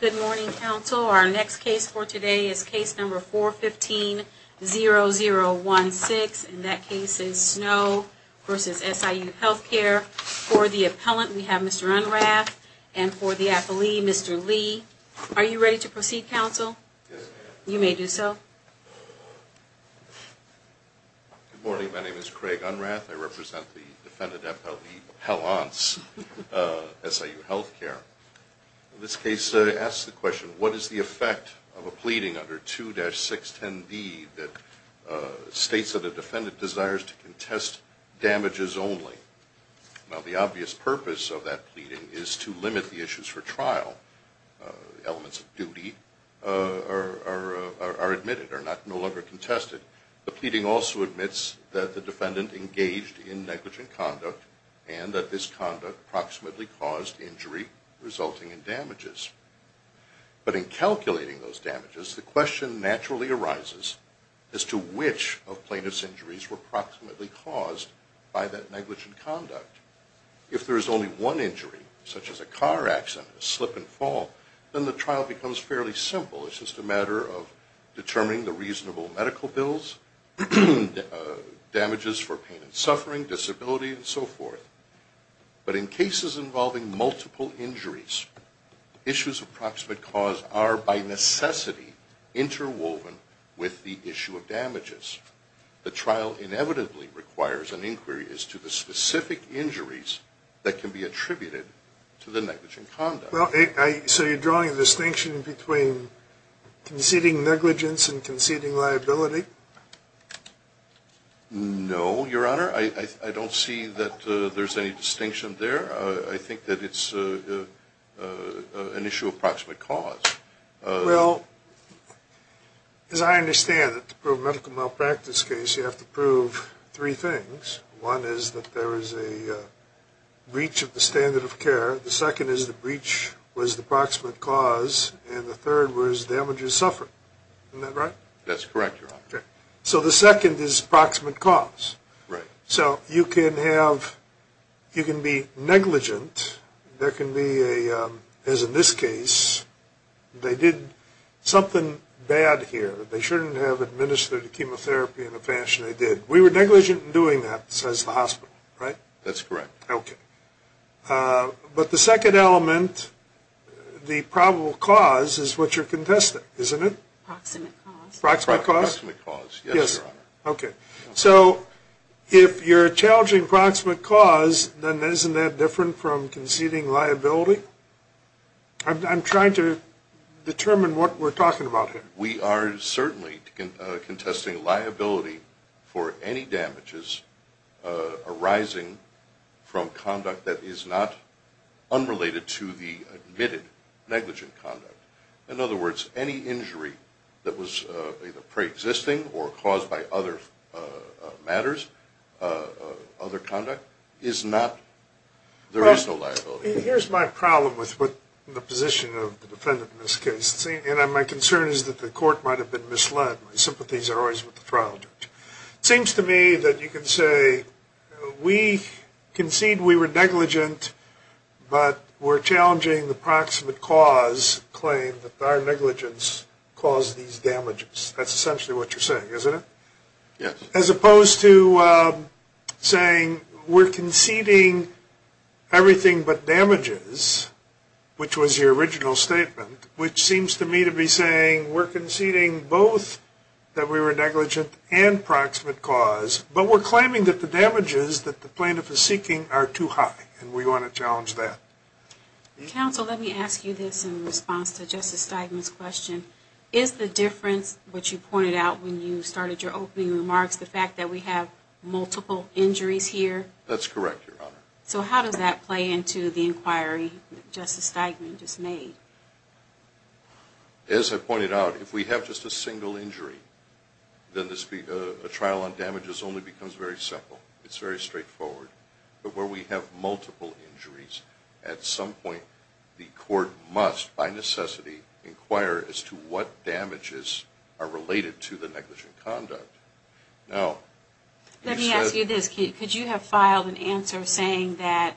Good morning, counsel. Our next case for today is case number 415-0016, and that case is Snow vs. SIU Healthcare. For the appellant, we have Mr. Unrath, and for the affilee, Mr. Lee. Are you ready to proceed, counsel? Yes, ma'am. You may do so. Good morning. My name is Craig Unrath. I represent the defendant appellee appellants, SIU Healthcare. This case asks the question, what is the effect of a pleading under 2-610B that states that the defendant desires to contest damages only? Well, the obvious purpose of that pleading is to limit the issues for trial. Elements of duty are admitted, are no longer contested. The pleading also admits that the defendant engaged in negligent conduct and that this conduct approximately caused injury resulting in damages. But in calculating those damages, the question naturally arises as to which of plaintiff's injuries were approximately caused by that negligent conduct. If there is only one injury, such as a car accident, a slip and fall, then the trial becomes fairly simple. It's just a matter of determining the reasonable medical bills, damages for pain and suffering, disability, and so forth. But in cases involving multiple injuries, issues of approximate cause are by necessity interwoven with the issue of damages. The trial inevitably requires an inquiry as to the specific injuries that can be attributed to the negligent conduct. Well, so you're drawing a distinction between conceding negligence and conceding liability? No, Your Honor. I don't see that there's any distinction there. I think that it's an issue of approximate cause. Well, as I understand it, for a medical malpractice case, you have to prove three things. One is that there is a breach of the standard of care. The second is the breach was the approximate cause. And the third was damages suffered. Isn't that right? That's correct, Your Honor. So the second is approximate cause. So you can be negligent. There can be, as in this case, they did something bad here that they shouldn't have administered chemotherapy in the fashion they did. We were negligent in doing that, says the hospital, right? That's correct. Okay. But the second element, the probable cause, is what you're contesting, isn't it? Approximate cause. Approximate cause? Yes, Your Honor. Okay. So if you're challenging approximate cause, then isn't that different from conceding liability? I'm trying to determine what we're talking about here. We are certainly contesting liability for any damages arising from conduct that is not unrelated to the admitted negligent conduct. In other words, any injury that was either pre-existing or caused by other matters, other conduct, is not, there is no liability. Well, here's my problem with the position of the defendant in this case. And my concern is that the court might have been misled. My sympathies are always with the trial judge. It seems to me that you can say, we concede we were negligent, but we're challenging the approximate cause claim that our negligence caused these damages. That's essentially what you're saying, isn't it? Yes. As opposed to saying we're conceding everything but damages, which was your original statement, which seems to me to be saying we're conceding both that we were negligent and approximate cause, but we're claiming that the damages that the plaintiff is seeking are too high. And we want to challenge that. Counsel, let me ask you this in response to Justice Steigman's question. Is the difference, which you pointed out when you started your opening remarks, the fact that we have multiple injuries here? That's correct, Your Honor. So how does that play into the inquiry that Justice Steigman just made? As I pointed out, if we have just a single injury, then a trial on damages only becomes very simple. It's very straightforward. But where we have multiple injuries, at some point the court must, by necessity, inquire as to what damages are related to the negligent conduct. Let me ask you this. Could you have filed an answer saying that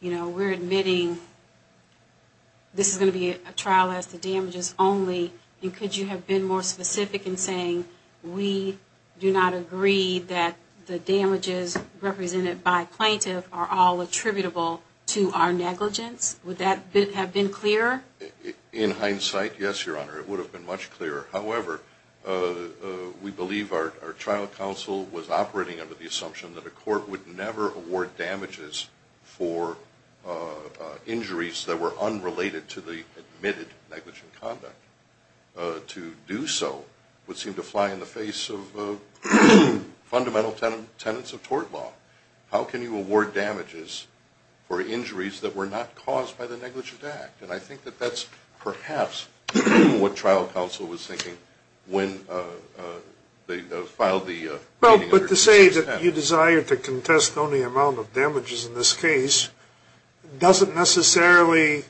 we're admitting this is going to be a trial as to damages only? And could you have been more specific in saying we do not agree that the damages represented by plaintiff are all attributable to our negligence? Would that have been clearer? In hindsight, yes, Your Honor. It would have been much clearer. However, we believe our trial counsel was operating under the assumption that a court would never award damages for injuries that were unrelated to the admitted negligent conduct. But to say that you desire to contest only the amount of damages in this case doesn't necessarily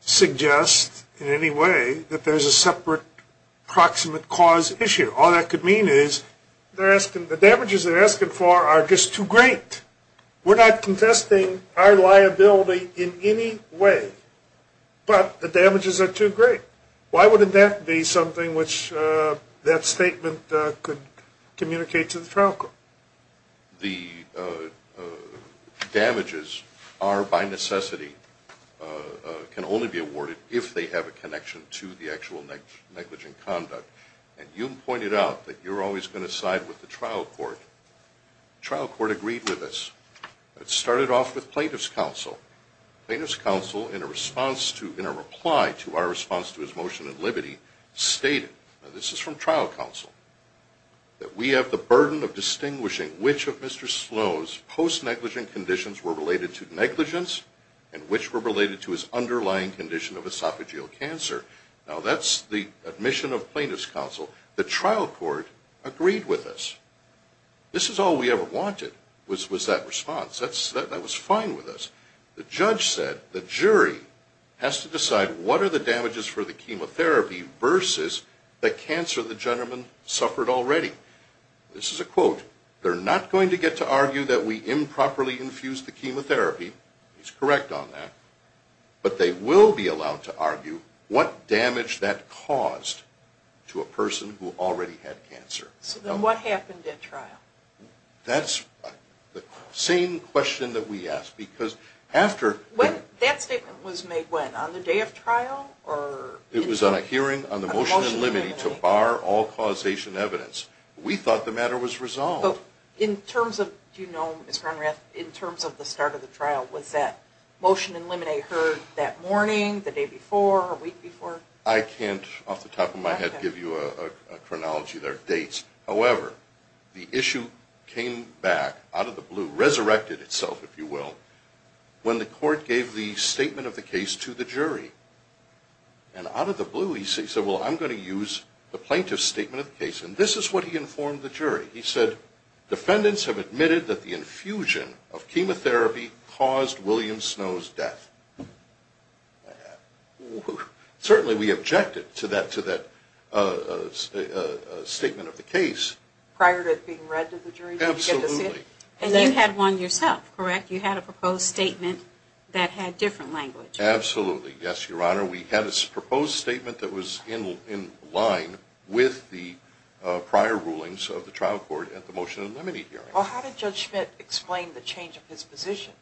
suggest in any way that that's the case. There's a separate proximate cause issue. All that could mean is the damages they're asking for are just too great. We're not contesting our liability in any way, but the damages are too great. Why wouldn't that be something which that statement could communicate to the trial court? The damages are, by necessity, can only be awarded if they have a connection to the actual negligent conduct. And you pointed out that you're always going to side with the trial court. The trial court agreed with us. It started off with plaintiff's counsel. Plaintiff's counsel, in a reply to our response to his motion of liberty, stated, this is from trial counsel, that we have the burden of distinguishing which of Mr. Sloan's post-negligent conditions were related to negligence and which were related to his underlying condition of esophageal cancer. Now that's the admission of plaintiff's counsel. The trial court agreed with us. This is all we ever wanted was that response. That was fine with us. The judge said the jury has to decide what are the damages for the chemotherapy versus the cancer the gentleman suffered already. This is a quote. They're not going to get to argue that we improperly infused the chemotherapy. He's correct on that. But they will be allowed to argue what damage that caused to a person who already had cancer. So then what happened at trial? That's the same question that we asked. Because after... That statement was made when? On the day of trial? It was on a hearing on the motion in limine to bar all causation evidence. We thought the matter was resolved. But in terms of, do you know Ms. Cronrath, in terms of the start of the trial, was that motion in limine heard that morning, the day before, a week before? I can't off the top of my head give you a chronology there of dates. However, the issue came back out of the blue, resurrected itself if you will, when the court gave the statement of the case to the jury. And out of the blue he said, well I'm going to use the plaintiff's statement of the case. And this is what he informed the jury. He said, defendants have admitted that the infusion of chemotherapy caused William Snow's death. Certainly we objected to that statement of the case. Prior to it being read to the jury? Absolutely. And you had one yourself, correct? You had a proposed statement that had different language. Absolutely, yes your honor. We had a proposed statement that was in line with the prior rulings of the trial court at the motion in limine hearing. Well how did Judge Schmidt explain the change of his position?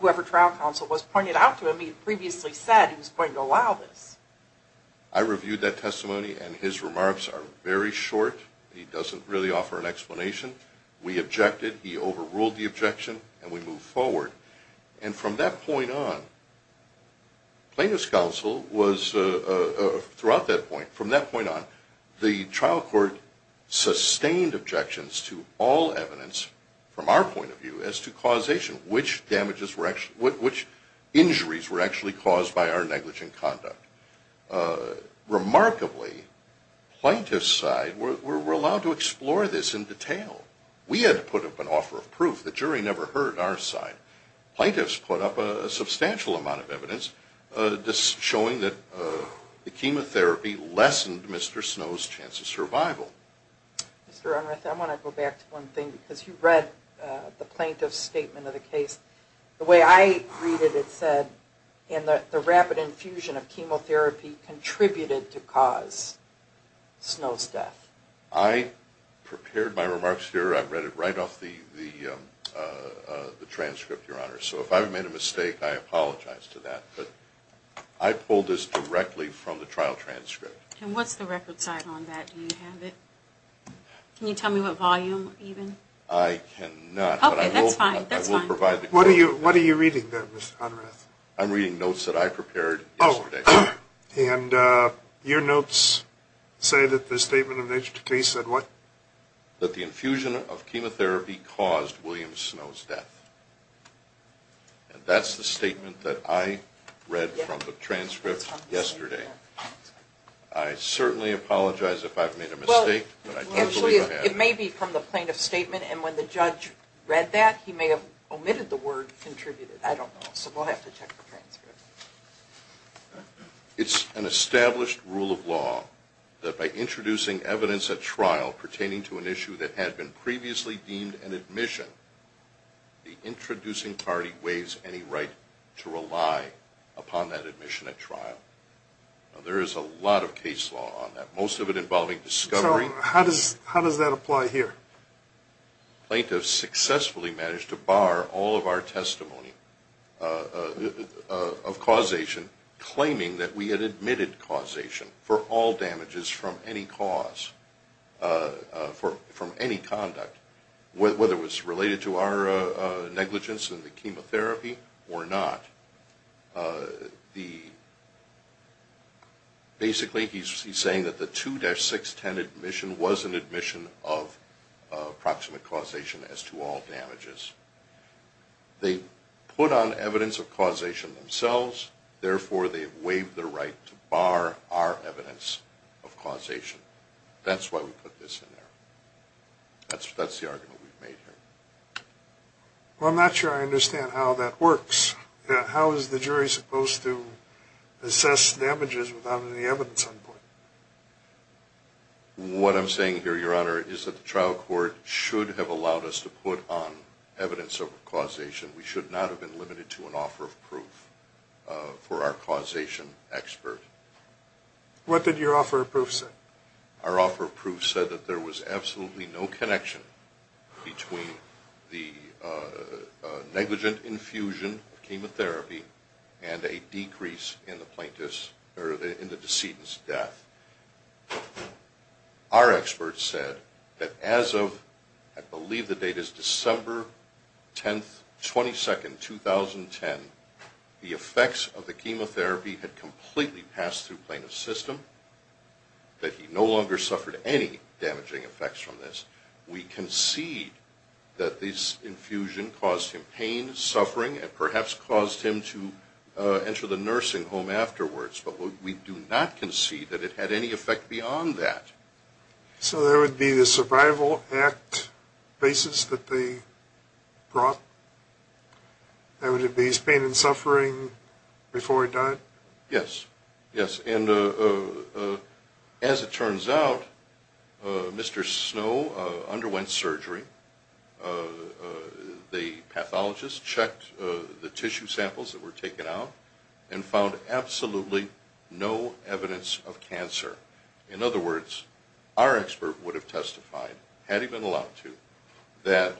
Whoever trial counsel was pointed out to him, he had previously said he was going to allow this. I reviewed that testimony and his remarks are very short. He doesn't really offer an explanation. We objected, he overruled the objection, and we moved forward. And from that point on, plaintiff's counsel was, throughout that point, from that point on, the trial court sustained objections to all evidence, from our point of view, as to causation. Which injuries were actually caused by our negligent conduct. Remarkably, plaintiff's side were allowed to explore this in detail. We had to put up an offer of proof. The jury never heard our side. Plaintiff's put up a substantial amount of evidence showing that the chemotherapy lessened Mr. Snow's chance of survival. Mr. Unruh, I want to go back to one thing, because you read the plaintiff's statement of the case. The way I read it, it said that the rapid infusion of chemotherapy contributed to cause Snow's death. I prepared my remarks here. I read it right off the transcript, your honor. So if I've made a mistake, I apologize for that. But I pulled this directly from the trial transcript. And what's the record side on that? Do you have it? Can you tell me what volume, even? I cannot. Okay, that's fine. That's fine. What are you reading there, Mr. Unruh? I'm reading notes that I prepared yesterday. And your notes say that the statement of the case said what? That the infusion of chemotherapy caused William Snow's death. And that's the statement that I read from the transcript yesterday. I certainly apologize if I've made a mistake. It may be from the plaintiff's statement. And when the judge read that, he may have omitted the word contributed. I don't know. So we'll have to check the transcript. It's an established rule of law that by introducing evidence at trial pertaining to an issue that had been previously deemed an admission, the introducing party waives any right to rely upon that admission at trial. Now, there is a lot of case law on that, most of it involving discovery. So how does that apply here? The plaintiff successfully managed to bar all of our testimony of causation, claiming that we had admitted causation for all damages from any cause, from any conduct, whether it was related to our negligence in the chemotherapy or not. Basically, he's saying that the 2-610 admission was an admission of proximate causation as to all damages. They put on evidence of causation themselves. Therefore, they waived the right to bar our evidence of causation. That's why we put this in there. That's the argument we've made here. Well, I'm not sure I understand how that works. How is the jury supposed to assess damages without any evidence on board? What I'm saying here, Your Honor, is that the trial court should have allowed us to put on evidence of causation. We should not have been limited to an offer of proof for our causation expert. What did your offer of proof say? Our offer of proof said that there was absolutely no connection between the negligent infusion of chemotherapy and a decrease in the decedent's death. Our experts said that as of, I believe the date is December 10, 2010, the effects of the chemotherapy had completely passed through plaintiff's system, that he no longer suffered any damaging effects from this. We concede that this infusion caused him pain, suffering, and perhaps caused him to enter the nursing home afterwards. But we do not concede that it had any effect beyond that. So there would be the Survival Act basis that they brought? There would be his pain and suffering before he died? Yes. Yes. And as it turns out, Mr. Snow underwent surgery. The pathologist checked the tissue samples that were taken out and found absolutely no evidence of cancer. In other words, our expert would have testified, had he been allowed to, that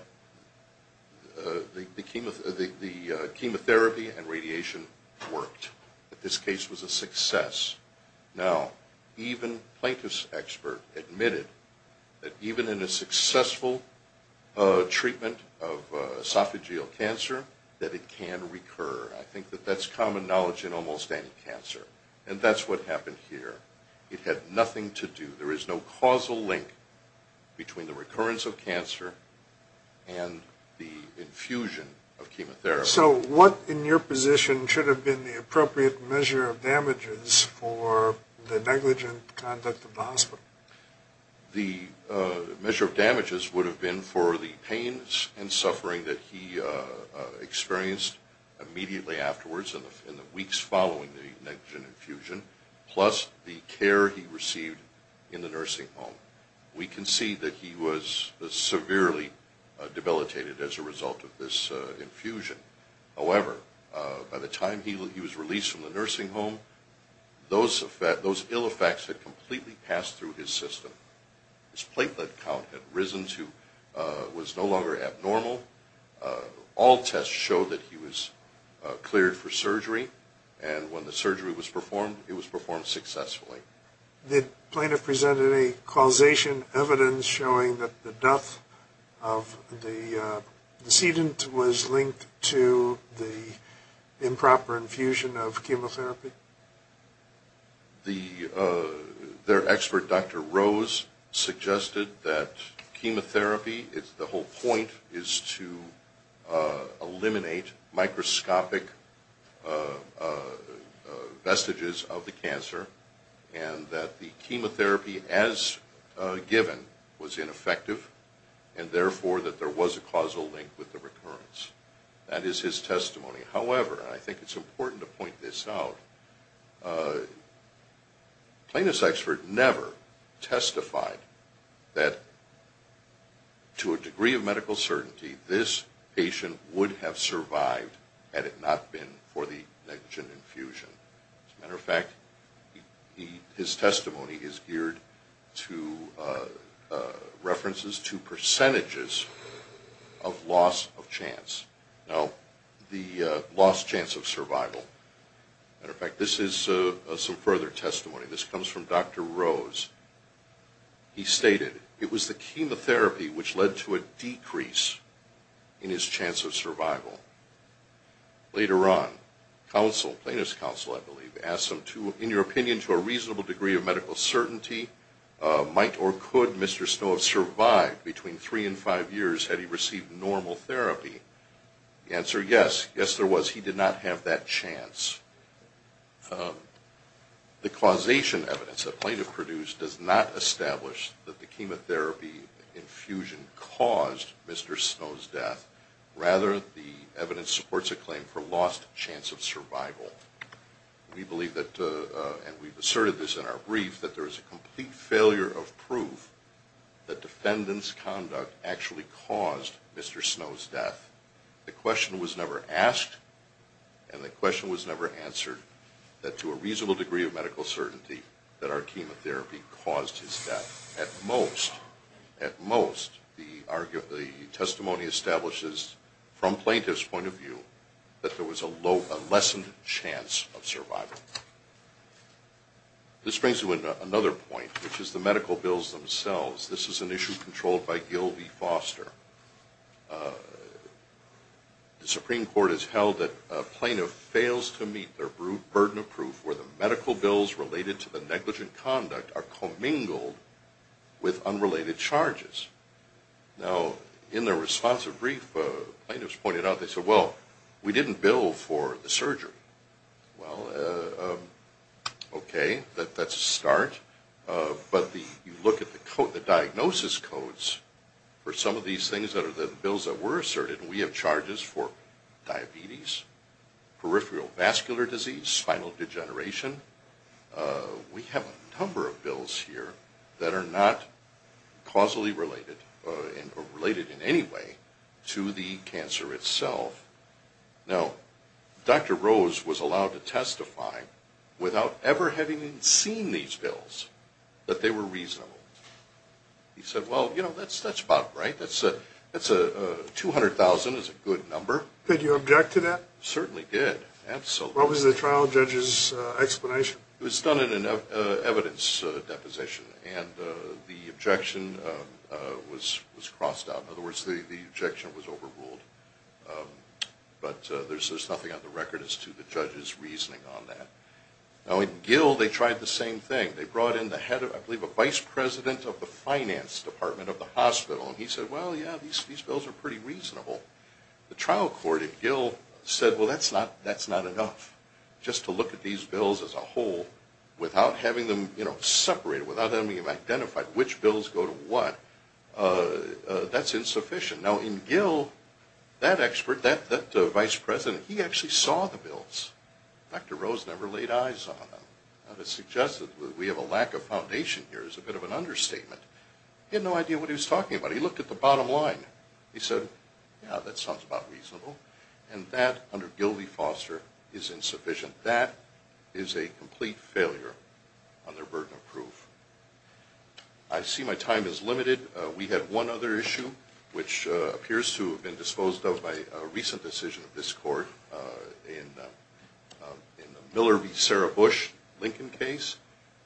the chemotherapy and radiation worked, that this case was a success. Now, even a plaintiff's expert admitted that even in a successful treatment of esophageal cancer, that it can recur. I think that that's common knowledge in almost any cancer. And that's what happened here. It had nothing to do, there is no causal link between the recurrence of cancer and the infusion of chemotherapy. So what, in your position, should have been the appropriate measure of damages for the negligent conduct of the hospital? The measure of damages would have been for the pains and suffering that he experienced immediately afterwards, in the weeks following the negligent infusion, plus the care he received in the nursing home. We can see that he was severely debilitated as a result of this infusion. However, by the time he was released from the nursing home, those ill effects had completely passed through his system. His platelet count had risen to, was no longer abnormal. All tests showed that he was cleared for surgery. And when the surgery was performed, it was performed successfully. The plaintiff presented a causation evidence showing that the death of the decedent was linked to the improper infusion of chemotherapy? Their expert, Dr. Rose, suggested that chemotherapy, the whole point is to eliminate microscopic vestiges of the cancer, and that the chemotherapy as given was ineffective, and therefore that there was a causal link with the recurrence. That is his testimony. However, I think it's important to point this out, the plaintiff's expert never testified that to a degree of medical certainty, this patient would have survived had it not been for the negligent infusion. As a matter of fact, his testimony is geared to references to percentages of loss of chance. Now, the lost chance of survival. As a matter of fact, this is some further testimony. This comes from Dr. Rose. He stated, it was the chemotherapy which led to a decrease in his chance of survival. Later on, counsel, plaintiff's counsel, I believe, asked him, in your opinion, to a reasonable degree of medical certainty, might or could Mr. Snow have survived between three and five years had he received normal therapy? The answer, yes. Yes, there was. He did not have that chance. The causation evidence that plaintiff produced does not establish that the chemotherapy infusion caused Mr. Snow's death. Rather, the evidence supports a claim for lost chance of survival. We believe that, and we've asserted this in our brief, that there is a complete failure of proof that defendant's conduct actually caused Mr. Snow's death. The question was never asked, and the question was never answered, that to a reasonable degree of medical certainty that our chemotherapy caused his death. At most, the testimony establishes, from plaintiff's point of view, that there was a lessened chance of survival. This brings to another point, which is the medical bills themselves. This is an issue controlled by Gil V. Foster. The Supreme Court has held that a plaintiff fails to meet their burden of proof where the medical bills related to the negligent conduct are commingled with unrelated charges. Now, in their responsive brief, plaintiffs pointed out, they said, well, we didn't bill for the surgery. Well, okay, that's a start. But you look at the diagnosis codes for some of these things that are the bills that were asserted, and we have charges for diabetes, peripheral vascular disease, spinal degeneration. We have a number of bills here that are not causally related or related in any way to the cancer itself. Now, Dr. Rose was allowed to testify without ever having seen these bills that they were reasonable. He said, well, you know, that's about right. That's 200,000 is a good number. Did you object to that? Certainly did, absolutely. What was the trial judge's explanation? It was done in an evidence deposition, and the objection was crossed out. In other words, the objection was overruled. But there's nothing on the record as to the judge's reasoning on that. Now, in Gil, they tried the same thing. They brought in the head of, I believe, a vice president of the finance department of the hospital, and he said, well, yeah, these bills are pretty reasonable. The trial court in Gil said, well, that's not enough. Just to look at these bills as a whole without having them separated, without having them identified, which bills go to what, that's insufficient. Now, in Gil, that expert, that vice president, he actually saw the bills. Dr. Rose never laid eyes on them. Now, to suggest that we have a lack of foundation here is a bit of an understatement. He had no idea what he was talking about. He looked at the bottom line. He said, yeah, that sounds about reasonable. And that, under Gil v. Foster, is insufficient. That is a complete failure on their burden of proof. I see my time is limited. We have one other issue which appears to have been disposed of by a recent decision of this court in the Miller v. Sarah Bush Lincoln case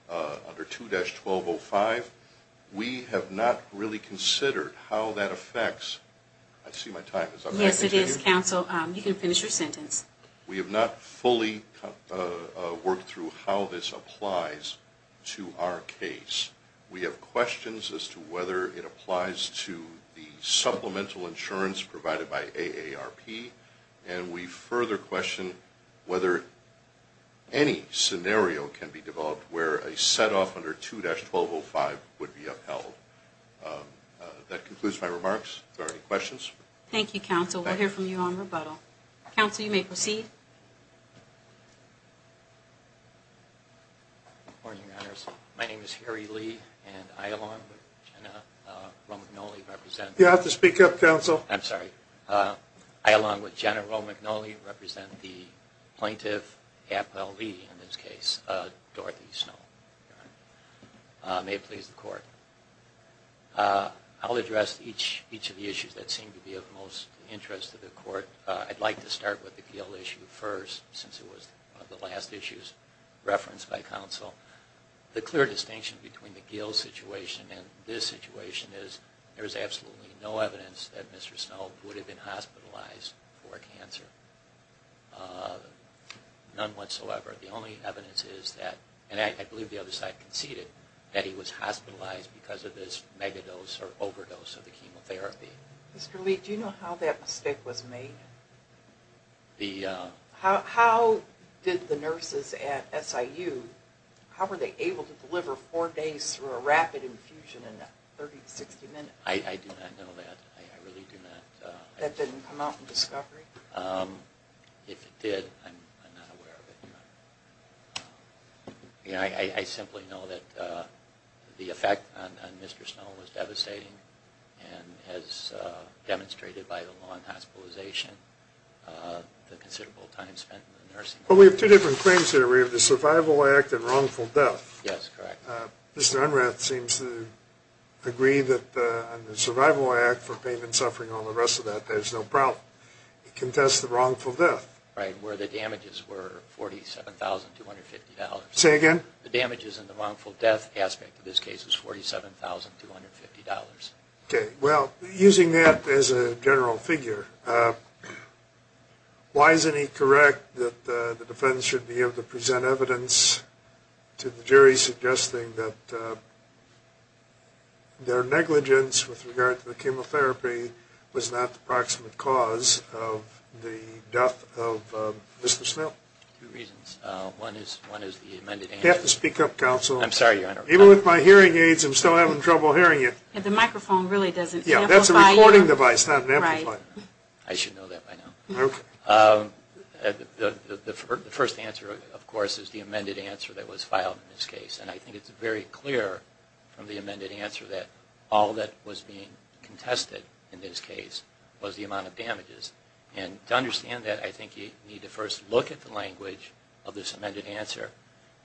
under 2-1205. We have not really considered how that affects. I see my time is up. Yes, it is, counsel. You can finish your sentence. We have not fully worked through how this applies to our case. We have questions as to whether it applies to the supplemental insurance provided by AARP, and we further question whether any scenario can be developed where a set-off under 2-1205 would be upheld. That concludes my remarks. Are there any questions? Thank you, counsel. We'll hear from you on rebuttal. Counsel, you may proceed. Good morning, Your Honors. My name is Harry Lee, and I, along with Jenna Romagnoli, represent. You have to speak up, counsel. I'm sorry. I, along with Jenna Romagnoli, represent the Plaintiff Appellee in this case, Dorothy Snow. May it please the court. I'll address each of the issues that seem to be of most interest to the court. I'd like to start with the Gill issue first, since it was one of the last issues referenced by counsel. The clear distinction between the Gill situation and this situation is there is absolutely no evidence that Mr. Snow would have been hospitalized for cancer, none whatsoever. The only evidence is that, and I believe the other side conceded, that he was hospitalized because of this megadose or overdose of the chemotherapy. Mr. Lee, do you know how that mistake was made? How did the nurses at SIU, how were they able to deliver four days through a rapid infusion in 30 to 60 minutes? I do not know that. I really do not. That didn't come out in discovery? If it did, I'm not aware of it. I simply know that the effect on Mr. Snow was devastating, and as demonstrated by the law on hospitalization, the considerable time spent in the nursing home. Well, we have two different claims here. We have the survival act and wrongful death. Yes, correct. Mr. Unrath seems to agree that the survival act for pain and suffering and all the rest of that, there's no problem. He contests the wrongful death. Right, where the damages were $47,250. Say again? The damages in the wrongful death aspect of this case was $47,250. Okay. Well, using that as a general figure, why isn't he correct that the defense should be able to present evidence to the jury suggesting that their negligence with regard to the chemotherapy was not the proximate cause of the death of Mr. Snow? Two reasons. One is the amended answer. You have to speak up, counsel. I'm sorry, Your Honor. Even with my hearing aids, I'm still having trouble hearing you. The microphone really doesn't amplify. Yeah, that's a recording device, not an amplifier. I should know that by now. Okay. The first answer, of course, is the amended answer that was filed in this case. And I think it's very clear from the amended answer that all that was being contested in this case was the amount of damages. And to understand that, I think you need to first look at the language of this amended answer.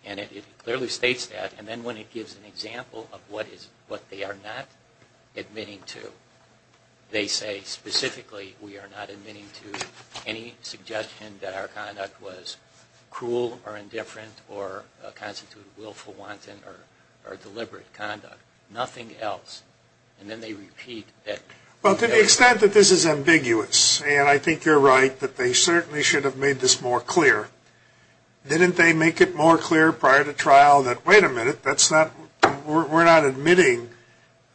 And it clearly states that. And then when it gives an example of what they are not admitting to, they say specifically, we are not admitting to any suggestion that our conduct was cruel or indifferent or constituted willful wanton or deliberate conduct. Nothing else. And then they repeat it. Well, to the extent that this is ambiguous, and I think you're right that they certainly should have made this more clear, didn't they make it more clear prior to trial that, wait a minute, we're not admitting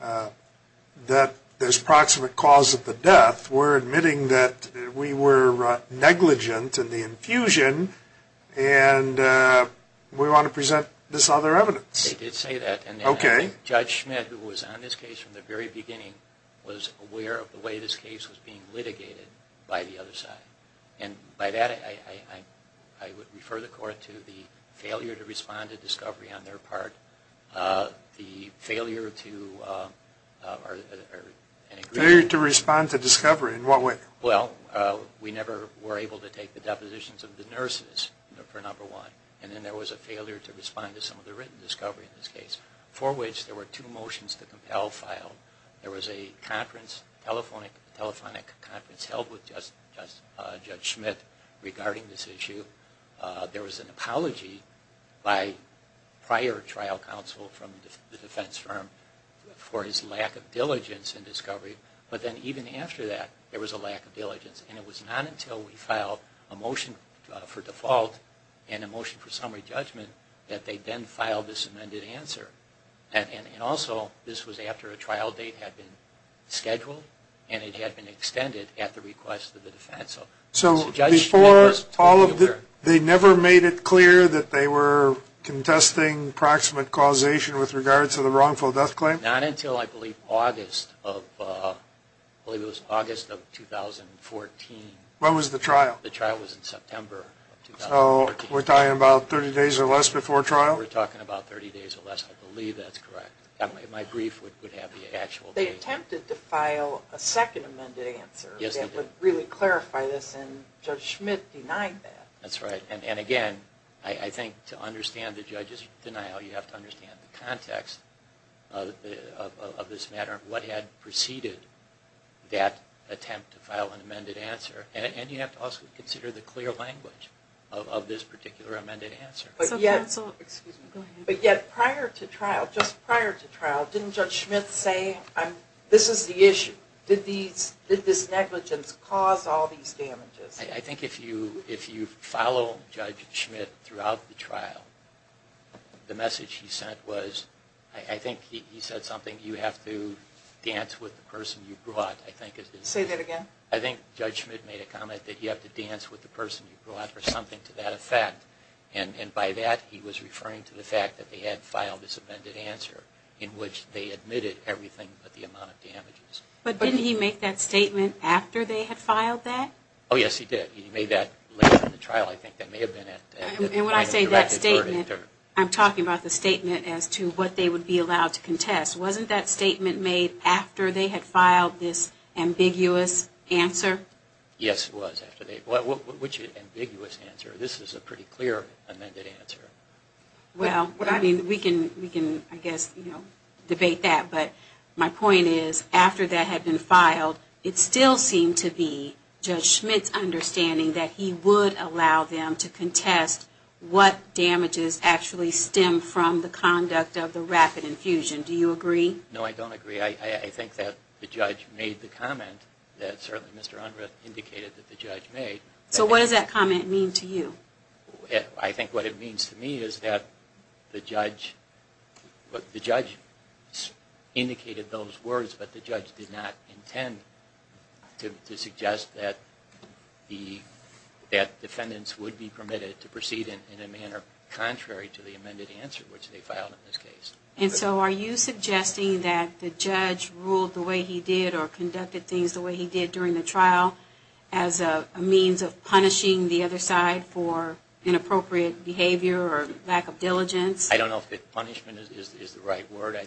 that there's proximate cause of the death. We're admitting that we were negligent in the infusion. And we want to present this other evidence. They did say that. Okay. And Judge Schmidt, who was on this case from the very beginning, was aware of the way this case was being litigated by the other side. And by that, I would refer the court to the failure to respond to discovery on their part. The failure to respond to discovery in what way? Well, we never were able to take the depositions of the nurses for number one. And then there was a failure to respond to some of the written discovery in this case, for which there were two motions to compel filed. There was a conference, a telephonic conference held with Judge Schmidt regarding this issue. There was an apology by prior trial counsel from the defense firm for his lack of diligence in discovery. But then even after that, there was a lack of diligence. And it was not until we filed a motion for default and a motion for summary judgment that they then filed this amended answer. And also, this was after a trial date had been scheduled and it had been extended at the request of the defense. So Judge Schmidt was totally aware. So before all of this, they never made it clear that they were contesting proximate causation with regards to the wrongful death claim? Not until, I believe, August of 2014. When was the trial? The trial was in September of 2014. So we're talking about 30 days or less before trial? We're talking about 30 days or less. I believe that's correct. My brief would have the actual date. They attempted to file a second amended answer that would really clarify this, and Judge Schmidt denied that. That's right. And again, I think to understand the judge's denial, you have to understand the context of this matter, what had preceded that attempt to file an amended answer. And you have to also consider the clear language of this particular amended answer. But yet, prior to trial, just prior to trial, didn't Judge Schmidt say, this is the issue? Did this negligence cause all these damages? I think if you follow Judge Schmidt throughout the trial, the message he sent was, I think he said something, you have to dance with the person you brought. Say that again? I think Judge Schmidt made a comment that you have to dance with the person you brought, or something to that effect. And by that, he was referring to the fact that they had filed this amended answer, in which they admitted everything but the amount of damages. But didn't he make that statement after they had filed that? Oh, yes, he did. He made that later in the trial. I think that may have been at the time of the directed verdict. And when I say that statement, I'm talking about the statement as to what they would be allowed to contest. Wasn't that statement made after they had filed this ambiguous answer? Yes, it was. Which ambiguous answer? This is a pretty clear amended answer. Well, I mean, we can, I guess, debate that. But my point is, after that had been filed, it still seemed to be Judge Schmidt's understanding that he would allow them to contest what damages actually stem from the conduct of the rapid infusion. Do you agree? No, I don't agree. I think that the judge made the comment that certainly Mr. Unruh indicated that the judge made. So what does that comment mean to you? I think what it means to me is that the judge indicated those words, but the judge did not intend to suggest that defendants would be permitted to proceed in a manner contrary to the amended answer, which they filed in this case. And so are you suggesting that the judge ruled the way he did or conducted things the way he did during the trial as a means of punishing the other side for inappropriate behavior or lack of diligence? I don't know if punishment is the right word. Or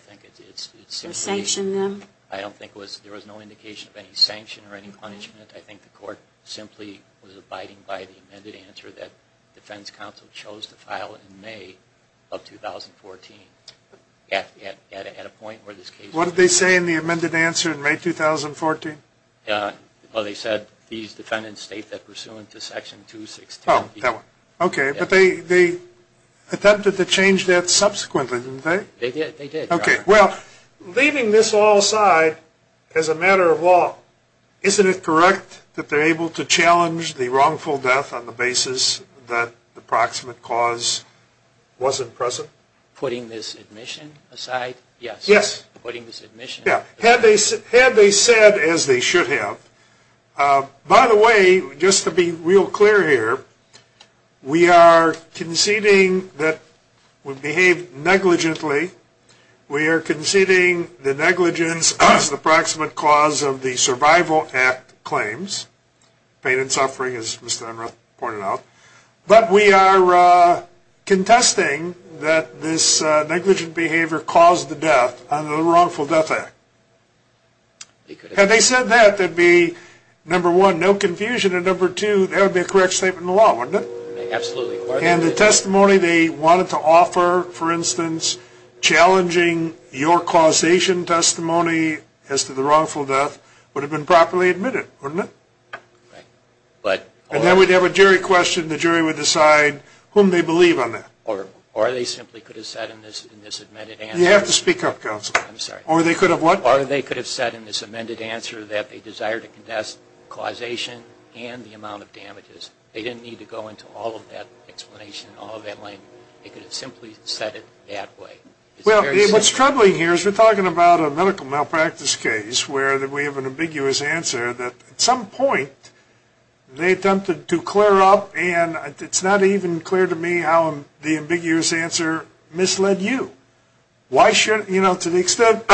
sanctioned them? I don't think there was no indication of any sanction or any punishment. I think the court simply was abiding by the amended answer that defense counsel chose to file in May of 2014 at a point where this case was. What did they say in the amended answer in May 2014? They said these defendants state they're pursuant to Section 216. Okay. But they attempted to change that subsequently, didn't they? They did. Okay. Well, leaving this all aside, as a matter of law, isn't it correct that they're able to challenge the wrongful death on the basis that the proximate cause wasn't present? Putting this admission aside? Yes. Yes. Yeah. Had they said, as they should have, by the way, just to be real clear here, we are conceding that we behaved negligently. We are conceding the negligence as the proximate cause of the Survival Act claims, pain and suffering, as Mr. Emmerich pointed out. But we are contesting that this negligent behavior caused the death under the Wrongful Death Act. Had they said that, there would be, number one, no confusion, and number two, there would be a correct statement in the law, wouldn't it? Absolutely. And the testimony they wanted to offer, for instance, challenging your causation testimony as to the wrongful death would have been properly admitted, wouldn't it? Right. And then we'd have a jury question. The jury would decide whom they believe on that. Or they simply could have said in this amended answer. You have to speak up, counsel. I'm sorry. Or they could have what? Or they could have said in this amended answer that they desire to contest causation and the amount of damages. They didn't need to go into all of that explanation, all of that length. They could have simply said it that way. Well, what's troubling here is we're talking about a medical malpractice case where we have an ambiguous answer that at some point they attempted to clear up, and it's not even clear to me how the ambiguous answer misled you. You know, to the extent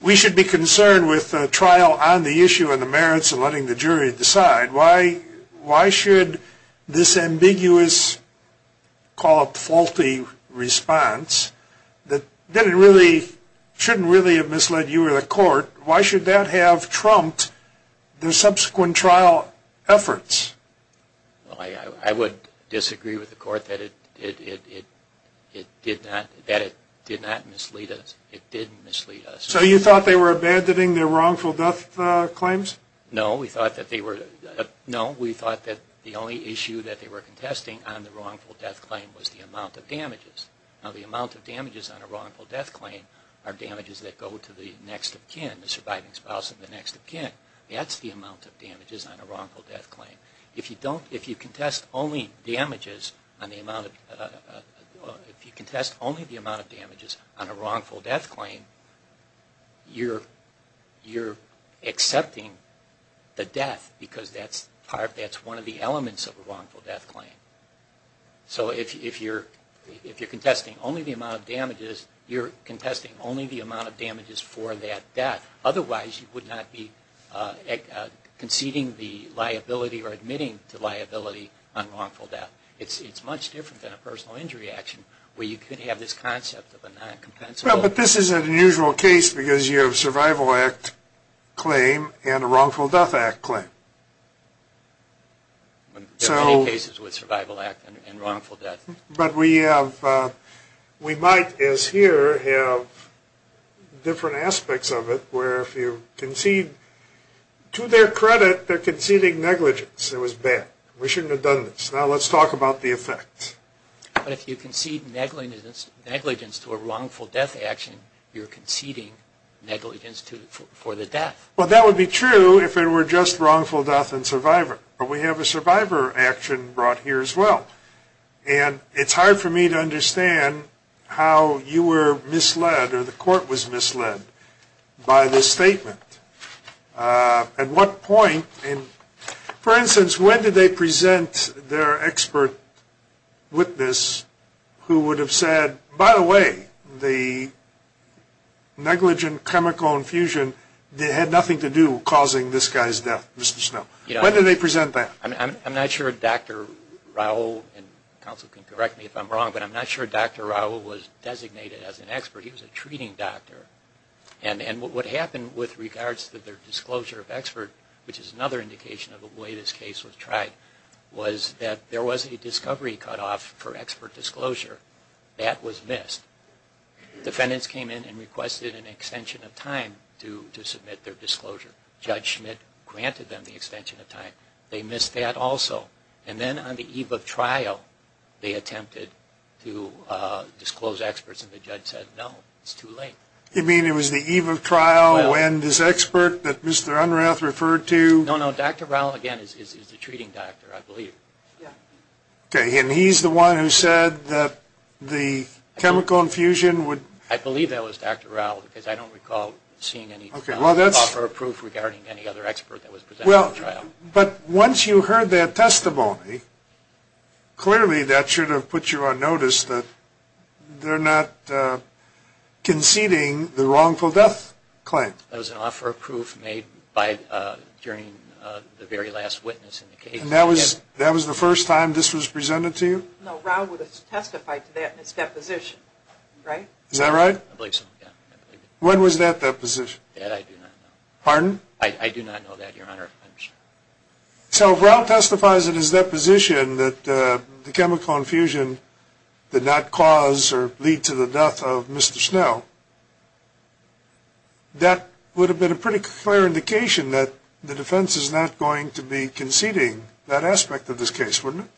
we should be concerned with a trial on the issue and the merits of letting the jury decide, why should this ambiguous, call it faulty, response that shouldn't really have misled you or the court, why should that have trumped the subsequent trial efforts? I would disagree with the court that it did not mislead us. It did mislead us. So you thought they were abandoning their wrongful death claims? No, we thought that the only issue that they were contesting on the wrongful death claim was the amount of damages. Now, the amount of damages on a wrongful death claim are damages that go to the next of kin, the surviving spouse of the next of kin. That's the amount of damages on a wrongful death claim. If you contest only the amount of damages on a wrongful death claim, you're accepting the death because that's part, that's one of the elements of a wrongful death claim. So if you're contesting only the amount of damages, you're contesting only the amount of damages for that death. Otherwise, you would not be conceding the liability or admitting to liability on wrongful death. It's much different than a personal injury action where you could have this concept of a non-compensable. Well, but this isn't an usual case because you have a survival act claim and a wrongful death act claim. There are many cases with survival act and wrongful death. But we might, as here, have different aspects of it where if you concede, to their credit, they're conceding negligence. It was bad. We shouldn't have done this. Now, let's talk about the effects. But if you concede negligence to a wrongful death action, you're conceding negligence for the death. Well, that would be true if it were just wrongful death and survivor. But we have a survivor action brought here as well. And it's hard for me to understand how you were misled or the court was misled by this statement. At what point, for instance, when did they present their expert witness who would have said, by the way, the negligent chemical infusion had nothing to do causing this guy's death, Mr. Snow? When did they present that? I'm not sure Dr. Raul, and counsel can correct me if I'm wrong, but I'm not sure Dr. Raul was designated as an expert. He was a treating doctor. And what happened with regards to their disclosure of expert, which is another indication of the way this case was tried, was that there was a discovery cutoff for expert disclosure. That was missed. Defendants came in and requested an extension of time to submit their disclosure. Judge Schmidt granted them the extension of time. They missed that also. And then on the eve of trial, they attempted to disclose experts, and the judge said, no, it's too late. You mean it was the eve of trial when this expert that Mr. Unrath referred to? No, no. Dr. Raul, again, is the treating doctor, I believe. Okay. And he's the one who said that the chemical infusion would – I believe that was Dr. Raul because I don't recall seeing any – Okay. – offer a proof regarding any other expert that was presented at trial. Well, but once you heard that testimony, clearly that should have put you on notice that they're not conceding the wrongful death claim. That was an offer of proof made during the very last witness in the case. And that was the first time this was presented to you? No, Raul would have testified to that in his deposition, right? Is that right? I believe so, yeah. When was that deposition? That I do not know. Pardon? I do not know that, Your Honor. So if Raul testifies in his deposition that the chemical infusion did not cause or lead to the death of Mr. Snell, that would have been a pretty clear indication that the defense is not going to be conceding that aspect of this case, wouldn't it?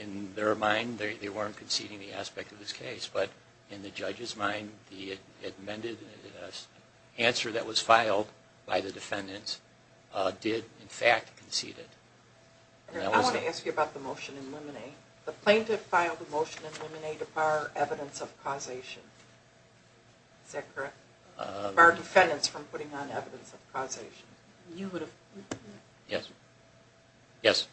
In their mind, they weren't conceding the aspect of this case. But in the judge's mind, the answer that was filed by the defendants did, in fact, concede it. I want to ask you about the motion in limine. The plaintiff filed the motion in limine to bar evidence of causation. Is that correct? Bar defendants from putting on evidence of causation. You would have? Yes. Yes.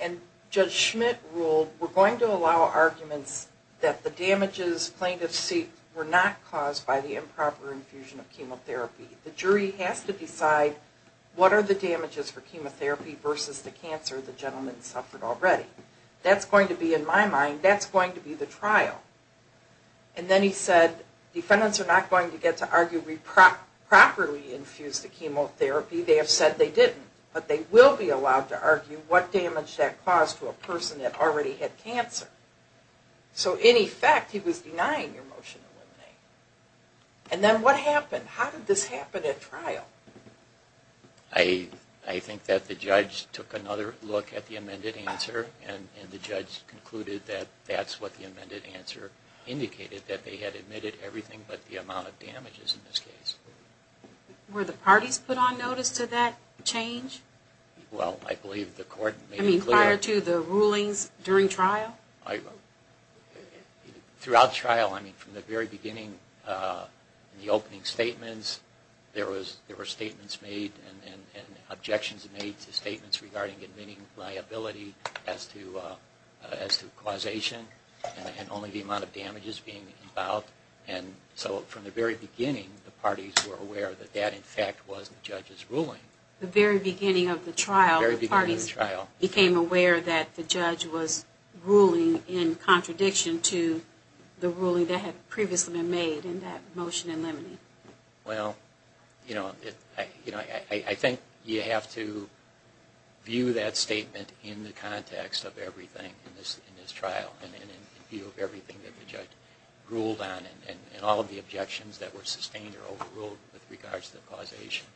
And Judge Schmidt ruled, we're going to allow arguments that the damages plaintiffs seek were not caused by the improper infusion of chemotherapy. The jury has to decide what are the damages for chemotherapy versus the cancer the gentleman suffered already. That's going to be, in my mind, that's going to be the trial. And then he said, defendants are not going to get to argue we properly infused the chemotherapy. They have said they didn't. But they will be allowed to argue what damage that caused to a person that already had cancer. So, in effect, he was denying your motion in limine. And then what happened? How did this happen at trial? I think that the judge took another look at the amended answer, and the judge concluded that that's what the amended answer indicated, that they had admitted everything but the amount of damages in this case. Were the parties put on notice to that change? Well, I believe the court made it clear. I mean, prior to the rulings during trial? Throughout trial, I mean, from the very beginning, the opening statements, there were statements made and objections made to statements regarding admitting liability as to causation and only the amount of damages being involved. And so from the very beginning, the parties were aware that that, in fact, was the judge's ruling. The very beginning of the trial, the parties became aware that the judge was ruling in contradiction to the ruling that had previously been made in that motion in limine. Well, you know, I think you have to view that statement in the context of everything in this trial and in view of everything that the judge ruled on and all of the objections that were sustained or overruled with regards to causation.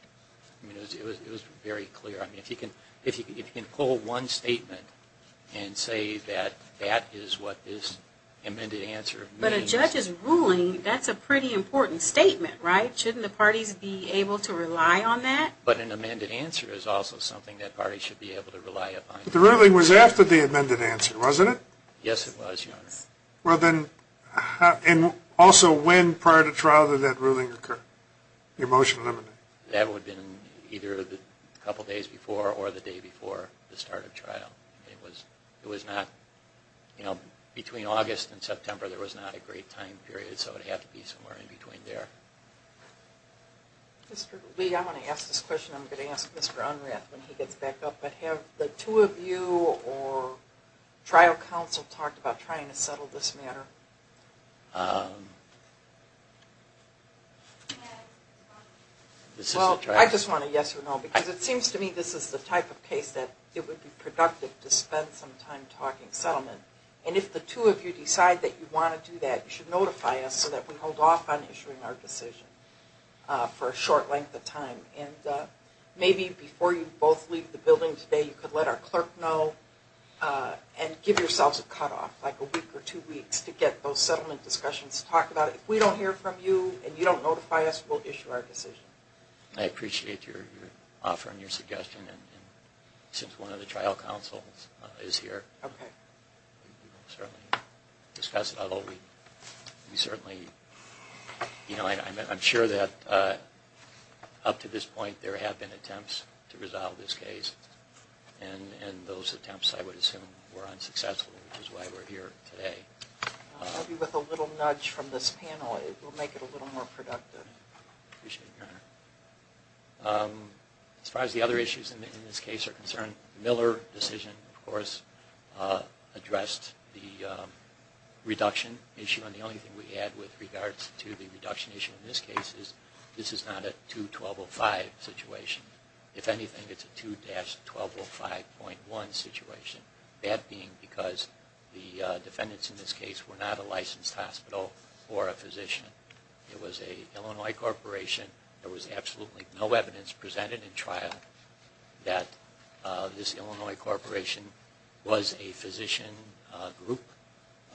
I mean, it was very clear. I mean, if you can pull one statement and say that that is what this amended answer means. But a judge's ruling, that's a pretty important statement, right? Shouldn't the parties be able to rely on that? But an amended answer is also something that parties should be able to rely upon. But the ruling was after the amended answer, wasn't it? Yes, it was, Your Honor. Well, then, and also when prior to trial did that ruling occur, your motion in limine? That would have been either a couple days before or the day before the start of trial. It was not, you know, between August and September there was not a great time period, so it would have to be somewhere in between there. Mr. Lee, I'm going to ask this question. I'm going to ask Mr. Unrath when he gets back up. But have the two of you or trial counsel talked about trying to settle this matter? Well, I just want a yes or no because it seems to me this is the type of case that it would be productive to spend some time talking settlement. And if the two of you decide that you want to do that, you should notify us so that we hold off on issuing our decision for a short length of time. And maybe before you both leave the building today, you could let our clerk know and give yourselves a cutoff, like a week or two weeks, to get those settlement discussions to talk about it. If we don't hear from you and you don't notify us, we'll issue our decision. I appreciate your offer and your suggestion. And since one of the trial counsels is here, we can certainly discuss it. I'm sure that up to this point, there have been attempts to resolve this case. And those attempts, I would assume, were unsuccessful, which is why we're here today. I'll be with a little nudge from this panel. It will make it a little more productive. I appreciate it, Your Honor. As far as the other issues in this case are concerned, the Miller decision, of course, addressed the reduction issue. And the only thing we add with regards to the reduction issue in this case is this is not a 2-1205 situation. If anything, it's a 2-1205.1 situation. That being because the defendants in this case were not a licensed hospital or a physician. It was an Illinois corporation. There was absolutely no evidence presented in trial that this Illinois corporation was a physician group,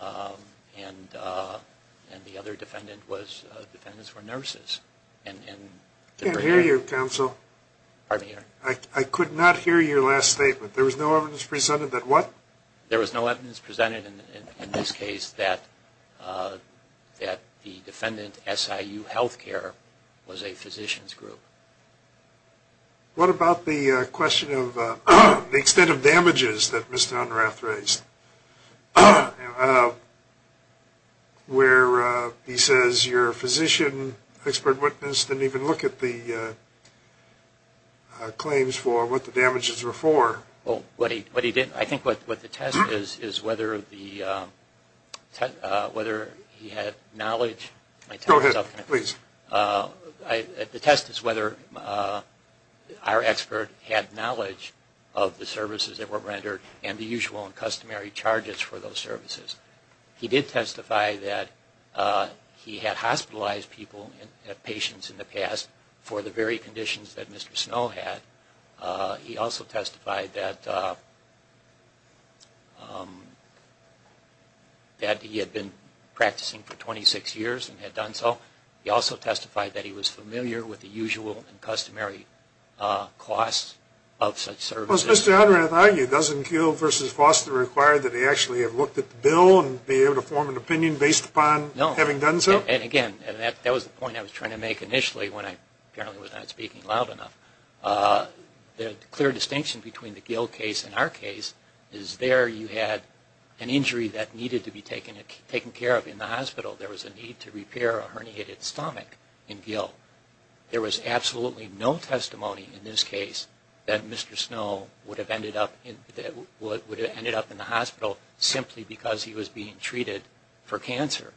and the other defendants were nurses. I can't hear you, counsel. Pardon me, Your Honor? I could not hear your last statement. There was no evidence presented that what? There was no evidence presented in this case that the defendant, SIU Healthcare, was a physician's group. What about the question of the extent of damages that Mr. Unrath raised where he says your physician, expert witness, didn't even look at the claims for what the damages were for? Well, what he did, I think what the test is, is whether he had knowledge. Go ahead, please. The test is whether our expert had knowledge of the services that were rendered and the usual and customary charges for those services. He did testify that he had hospitalized people and patients in the past for the very conditions that Mr. Snow had. He also testified that he had been practicing for 26 years and had done so. He also testified that he was familiar with the usual and customary costs of such services. Does Mr. Unrath argue, doesn't Gill v. Foster require that they actually have looked at the bill and be able to form an opinion based upon having done so? No. And, again, that was the point I was trying to make initially when I apparently was not speaking loud enough. The clear distinction between the Gill case and our case is there you had an injury that needed to be taken care of in the hospital. There was a need to repair a herniated stomach in Gill. There was absolutely no testimony in this case that Mr. Snow would have ended up in the hospital simply because he was being treated for cancer.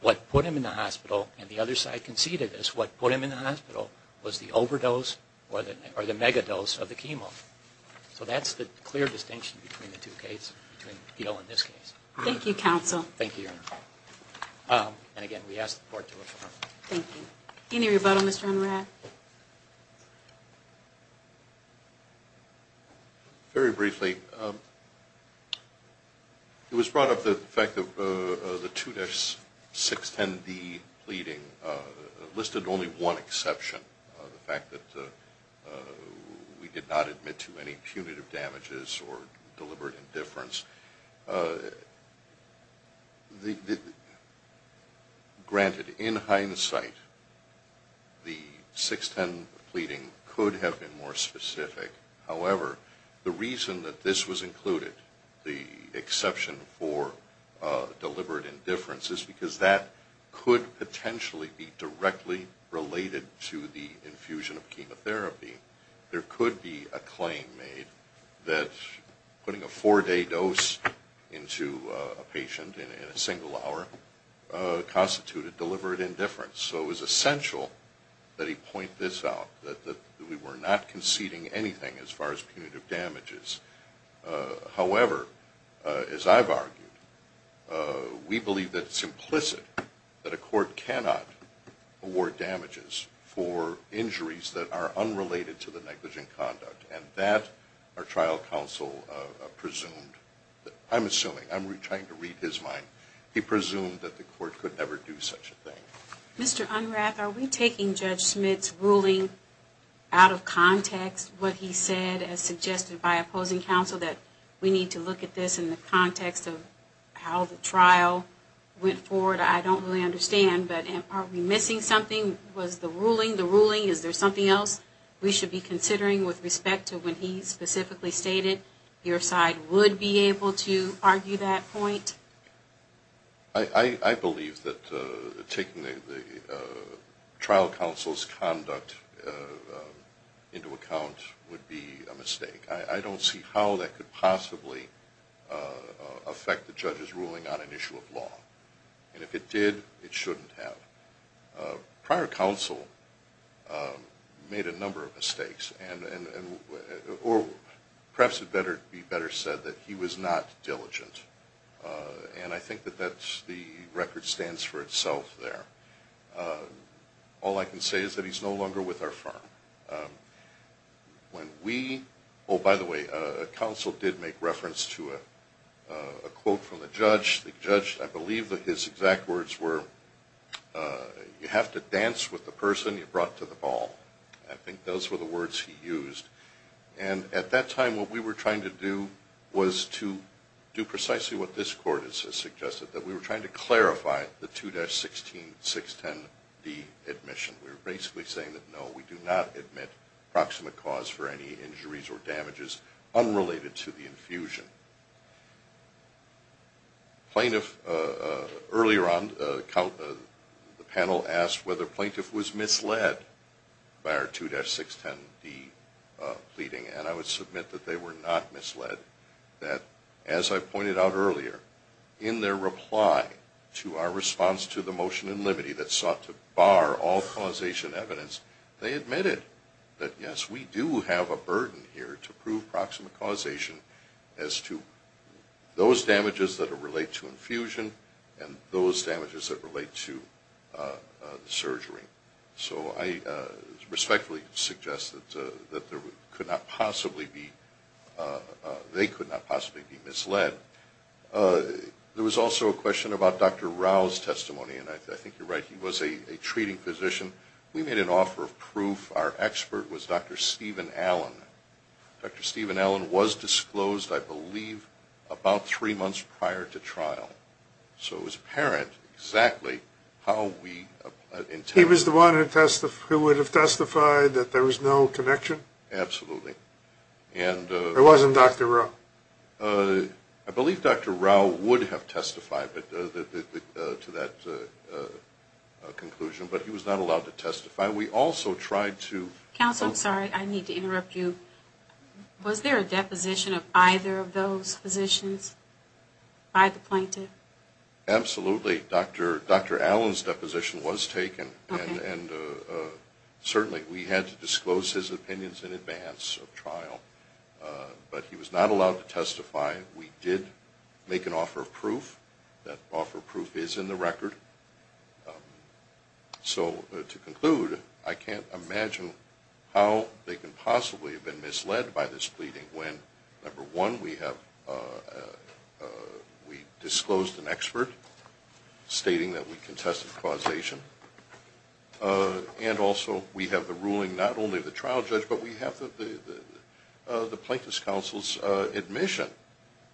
What put him in the hospital, and the other side conceded this, what put him in the hospital was the overdose or the megadose of the chemo. So that's the clear distinction between the two cases, between Gill and this case. Thank you, counsel. Thank you, Your Honor. And, again, we ask the Court to affirm. Thank you. Any rebuttal, Mr. Unrath? Very briefly. It was brought up the fact that the 2-610D pleading listed only one exception, the fact that we did not admit to any punitive damages or deliberate indifference. Granted, in hindsight, the 610 pleading could have been more specific. However, the reason that this was included, the exception for deliberate indifference, is because that could potentially be directly related to the infusion of chemotherapy. There could be a claim made that putting a four-day dose into a patient in a single hour constituted deliberate indifference. So it was essential that he point this out, that we were not conceding anything as far as punitive damages. However, as I've argued, we believe that it's implicit that a court cannot award damages for injuries that are unrelated to the negligent conduct. And that, our trial counsel presumed, I'm assuming, I'm trying to read his mind, he presumed that the court could never do such a thing. Mr. Unrath, are we taking Judge Smith's ruling out of context, what he said as suggested by opposing counsel, that we need to look at this in the context of how the trial went forward? I don't really understand, but are we missing something? Was the ruling the ruling? Is there something else we should be considering with respect to when he specifically stated your side would be able to argue that point? I believe that taking the trial counsel's conduct into account would be a mistake. I don't see how that could possibly affect the judge's ruling on an issue of law. And if it did, it shouldn't have. Prior counsel made a number of mistakes, or perhaps it would be better said that he was not diligent. And I think that the record stands for itself there. All I can say is that he's no longer with our firm. Oh, by the way, counsel did make reference to a quote from the judge. The judge, I believe that his exact words were, you have to dance with the person you brought to the ball. I think those were the words he used. And at that time what we were trying to do was to do precisely what this court has suggested, that we were trying to clarify the 2-16610D admission. We were basically saying that, no, we do not admit proximate cause for any injuries or damages unrelated to the infusion. Plaintiff, earlier on the panel asked whether plaintiff was misled by our 2-610D pleading, and I would submit that they were not misled. That, as I pointed out earlier, in their reply to our response to the motion in limitee that sought to bar all causation evidence, they admitted that, yes, we do have a burden here to prove proximate causation as to those damages that relate to infusion and those damages that relate to the surgery. So I respectfully suggest that they could not possibly be misled. There was also a question about Dr. Rao's testimony, and I think you're right. He was a treating physician. We made an offer of proof. Our expert was Dr. Stephen Allen. Dr. Stephen Allen was disclosed, I believe, about three months prior to trial. So it was apparent exactly how we intended. He was the one who would have testified that there was no connection? Absolutely. It wasn't Dr. Rao? I believe Dr. Rao would have testified to that conclusion, but he was not allowed to testify. We also tried to... Counsel, I'm sorry. I need to interrupt you. Was there a deposition of either of those physicians by the plaintiff? Absolutely. Dr. Allen's deposition was taken, and certainly we had to disclose his opinions in advance of trial. We did make an offer of proof. That offer of proof is in the record. So to conclude, I can't imagine how they could possibly have been misled by this pleading when, number one, we disclosed an expert stating that we contested causation, and also we have the ruling not only of the trial judge, but we have the plaintiff's counsel's admission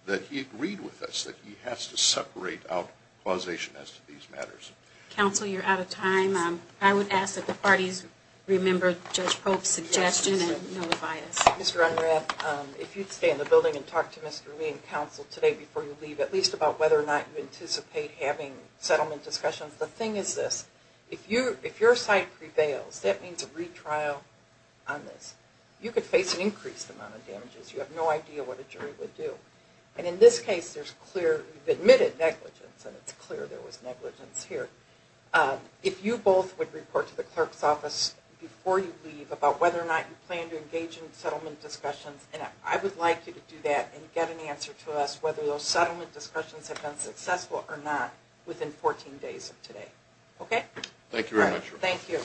that he agreed with us, that he has to separate out causation as to these matters. Counsel, you're out of time. I would ask that the parties remember Judge Pope's suggestion and notify us. Mr. Unrath, if you'd stay in the building and talk to Mr. Lee and counsel today before you leave, at least about whether or not you anticipate having settlement discussions. The thing is this. If your side prevails, that means a retrial on this. You could face an increased amount of damages. You have no idea what a jury would do. And in this case, there's clear admitted negligence, and it's clear there was negligence here. If you both would report to the clerk's office before you leave about whether or not you plan to engage in settlement discussions, and I would like you to do that and get an answer to us whether those settlement discussions have been successful or not within 14 days of today. Okay? Thank you very much. Thank you.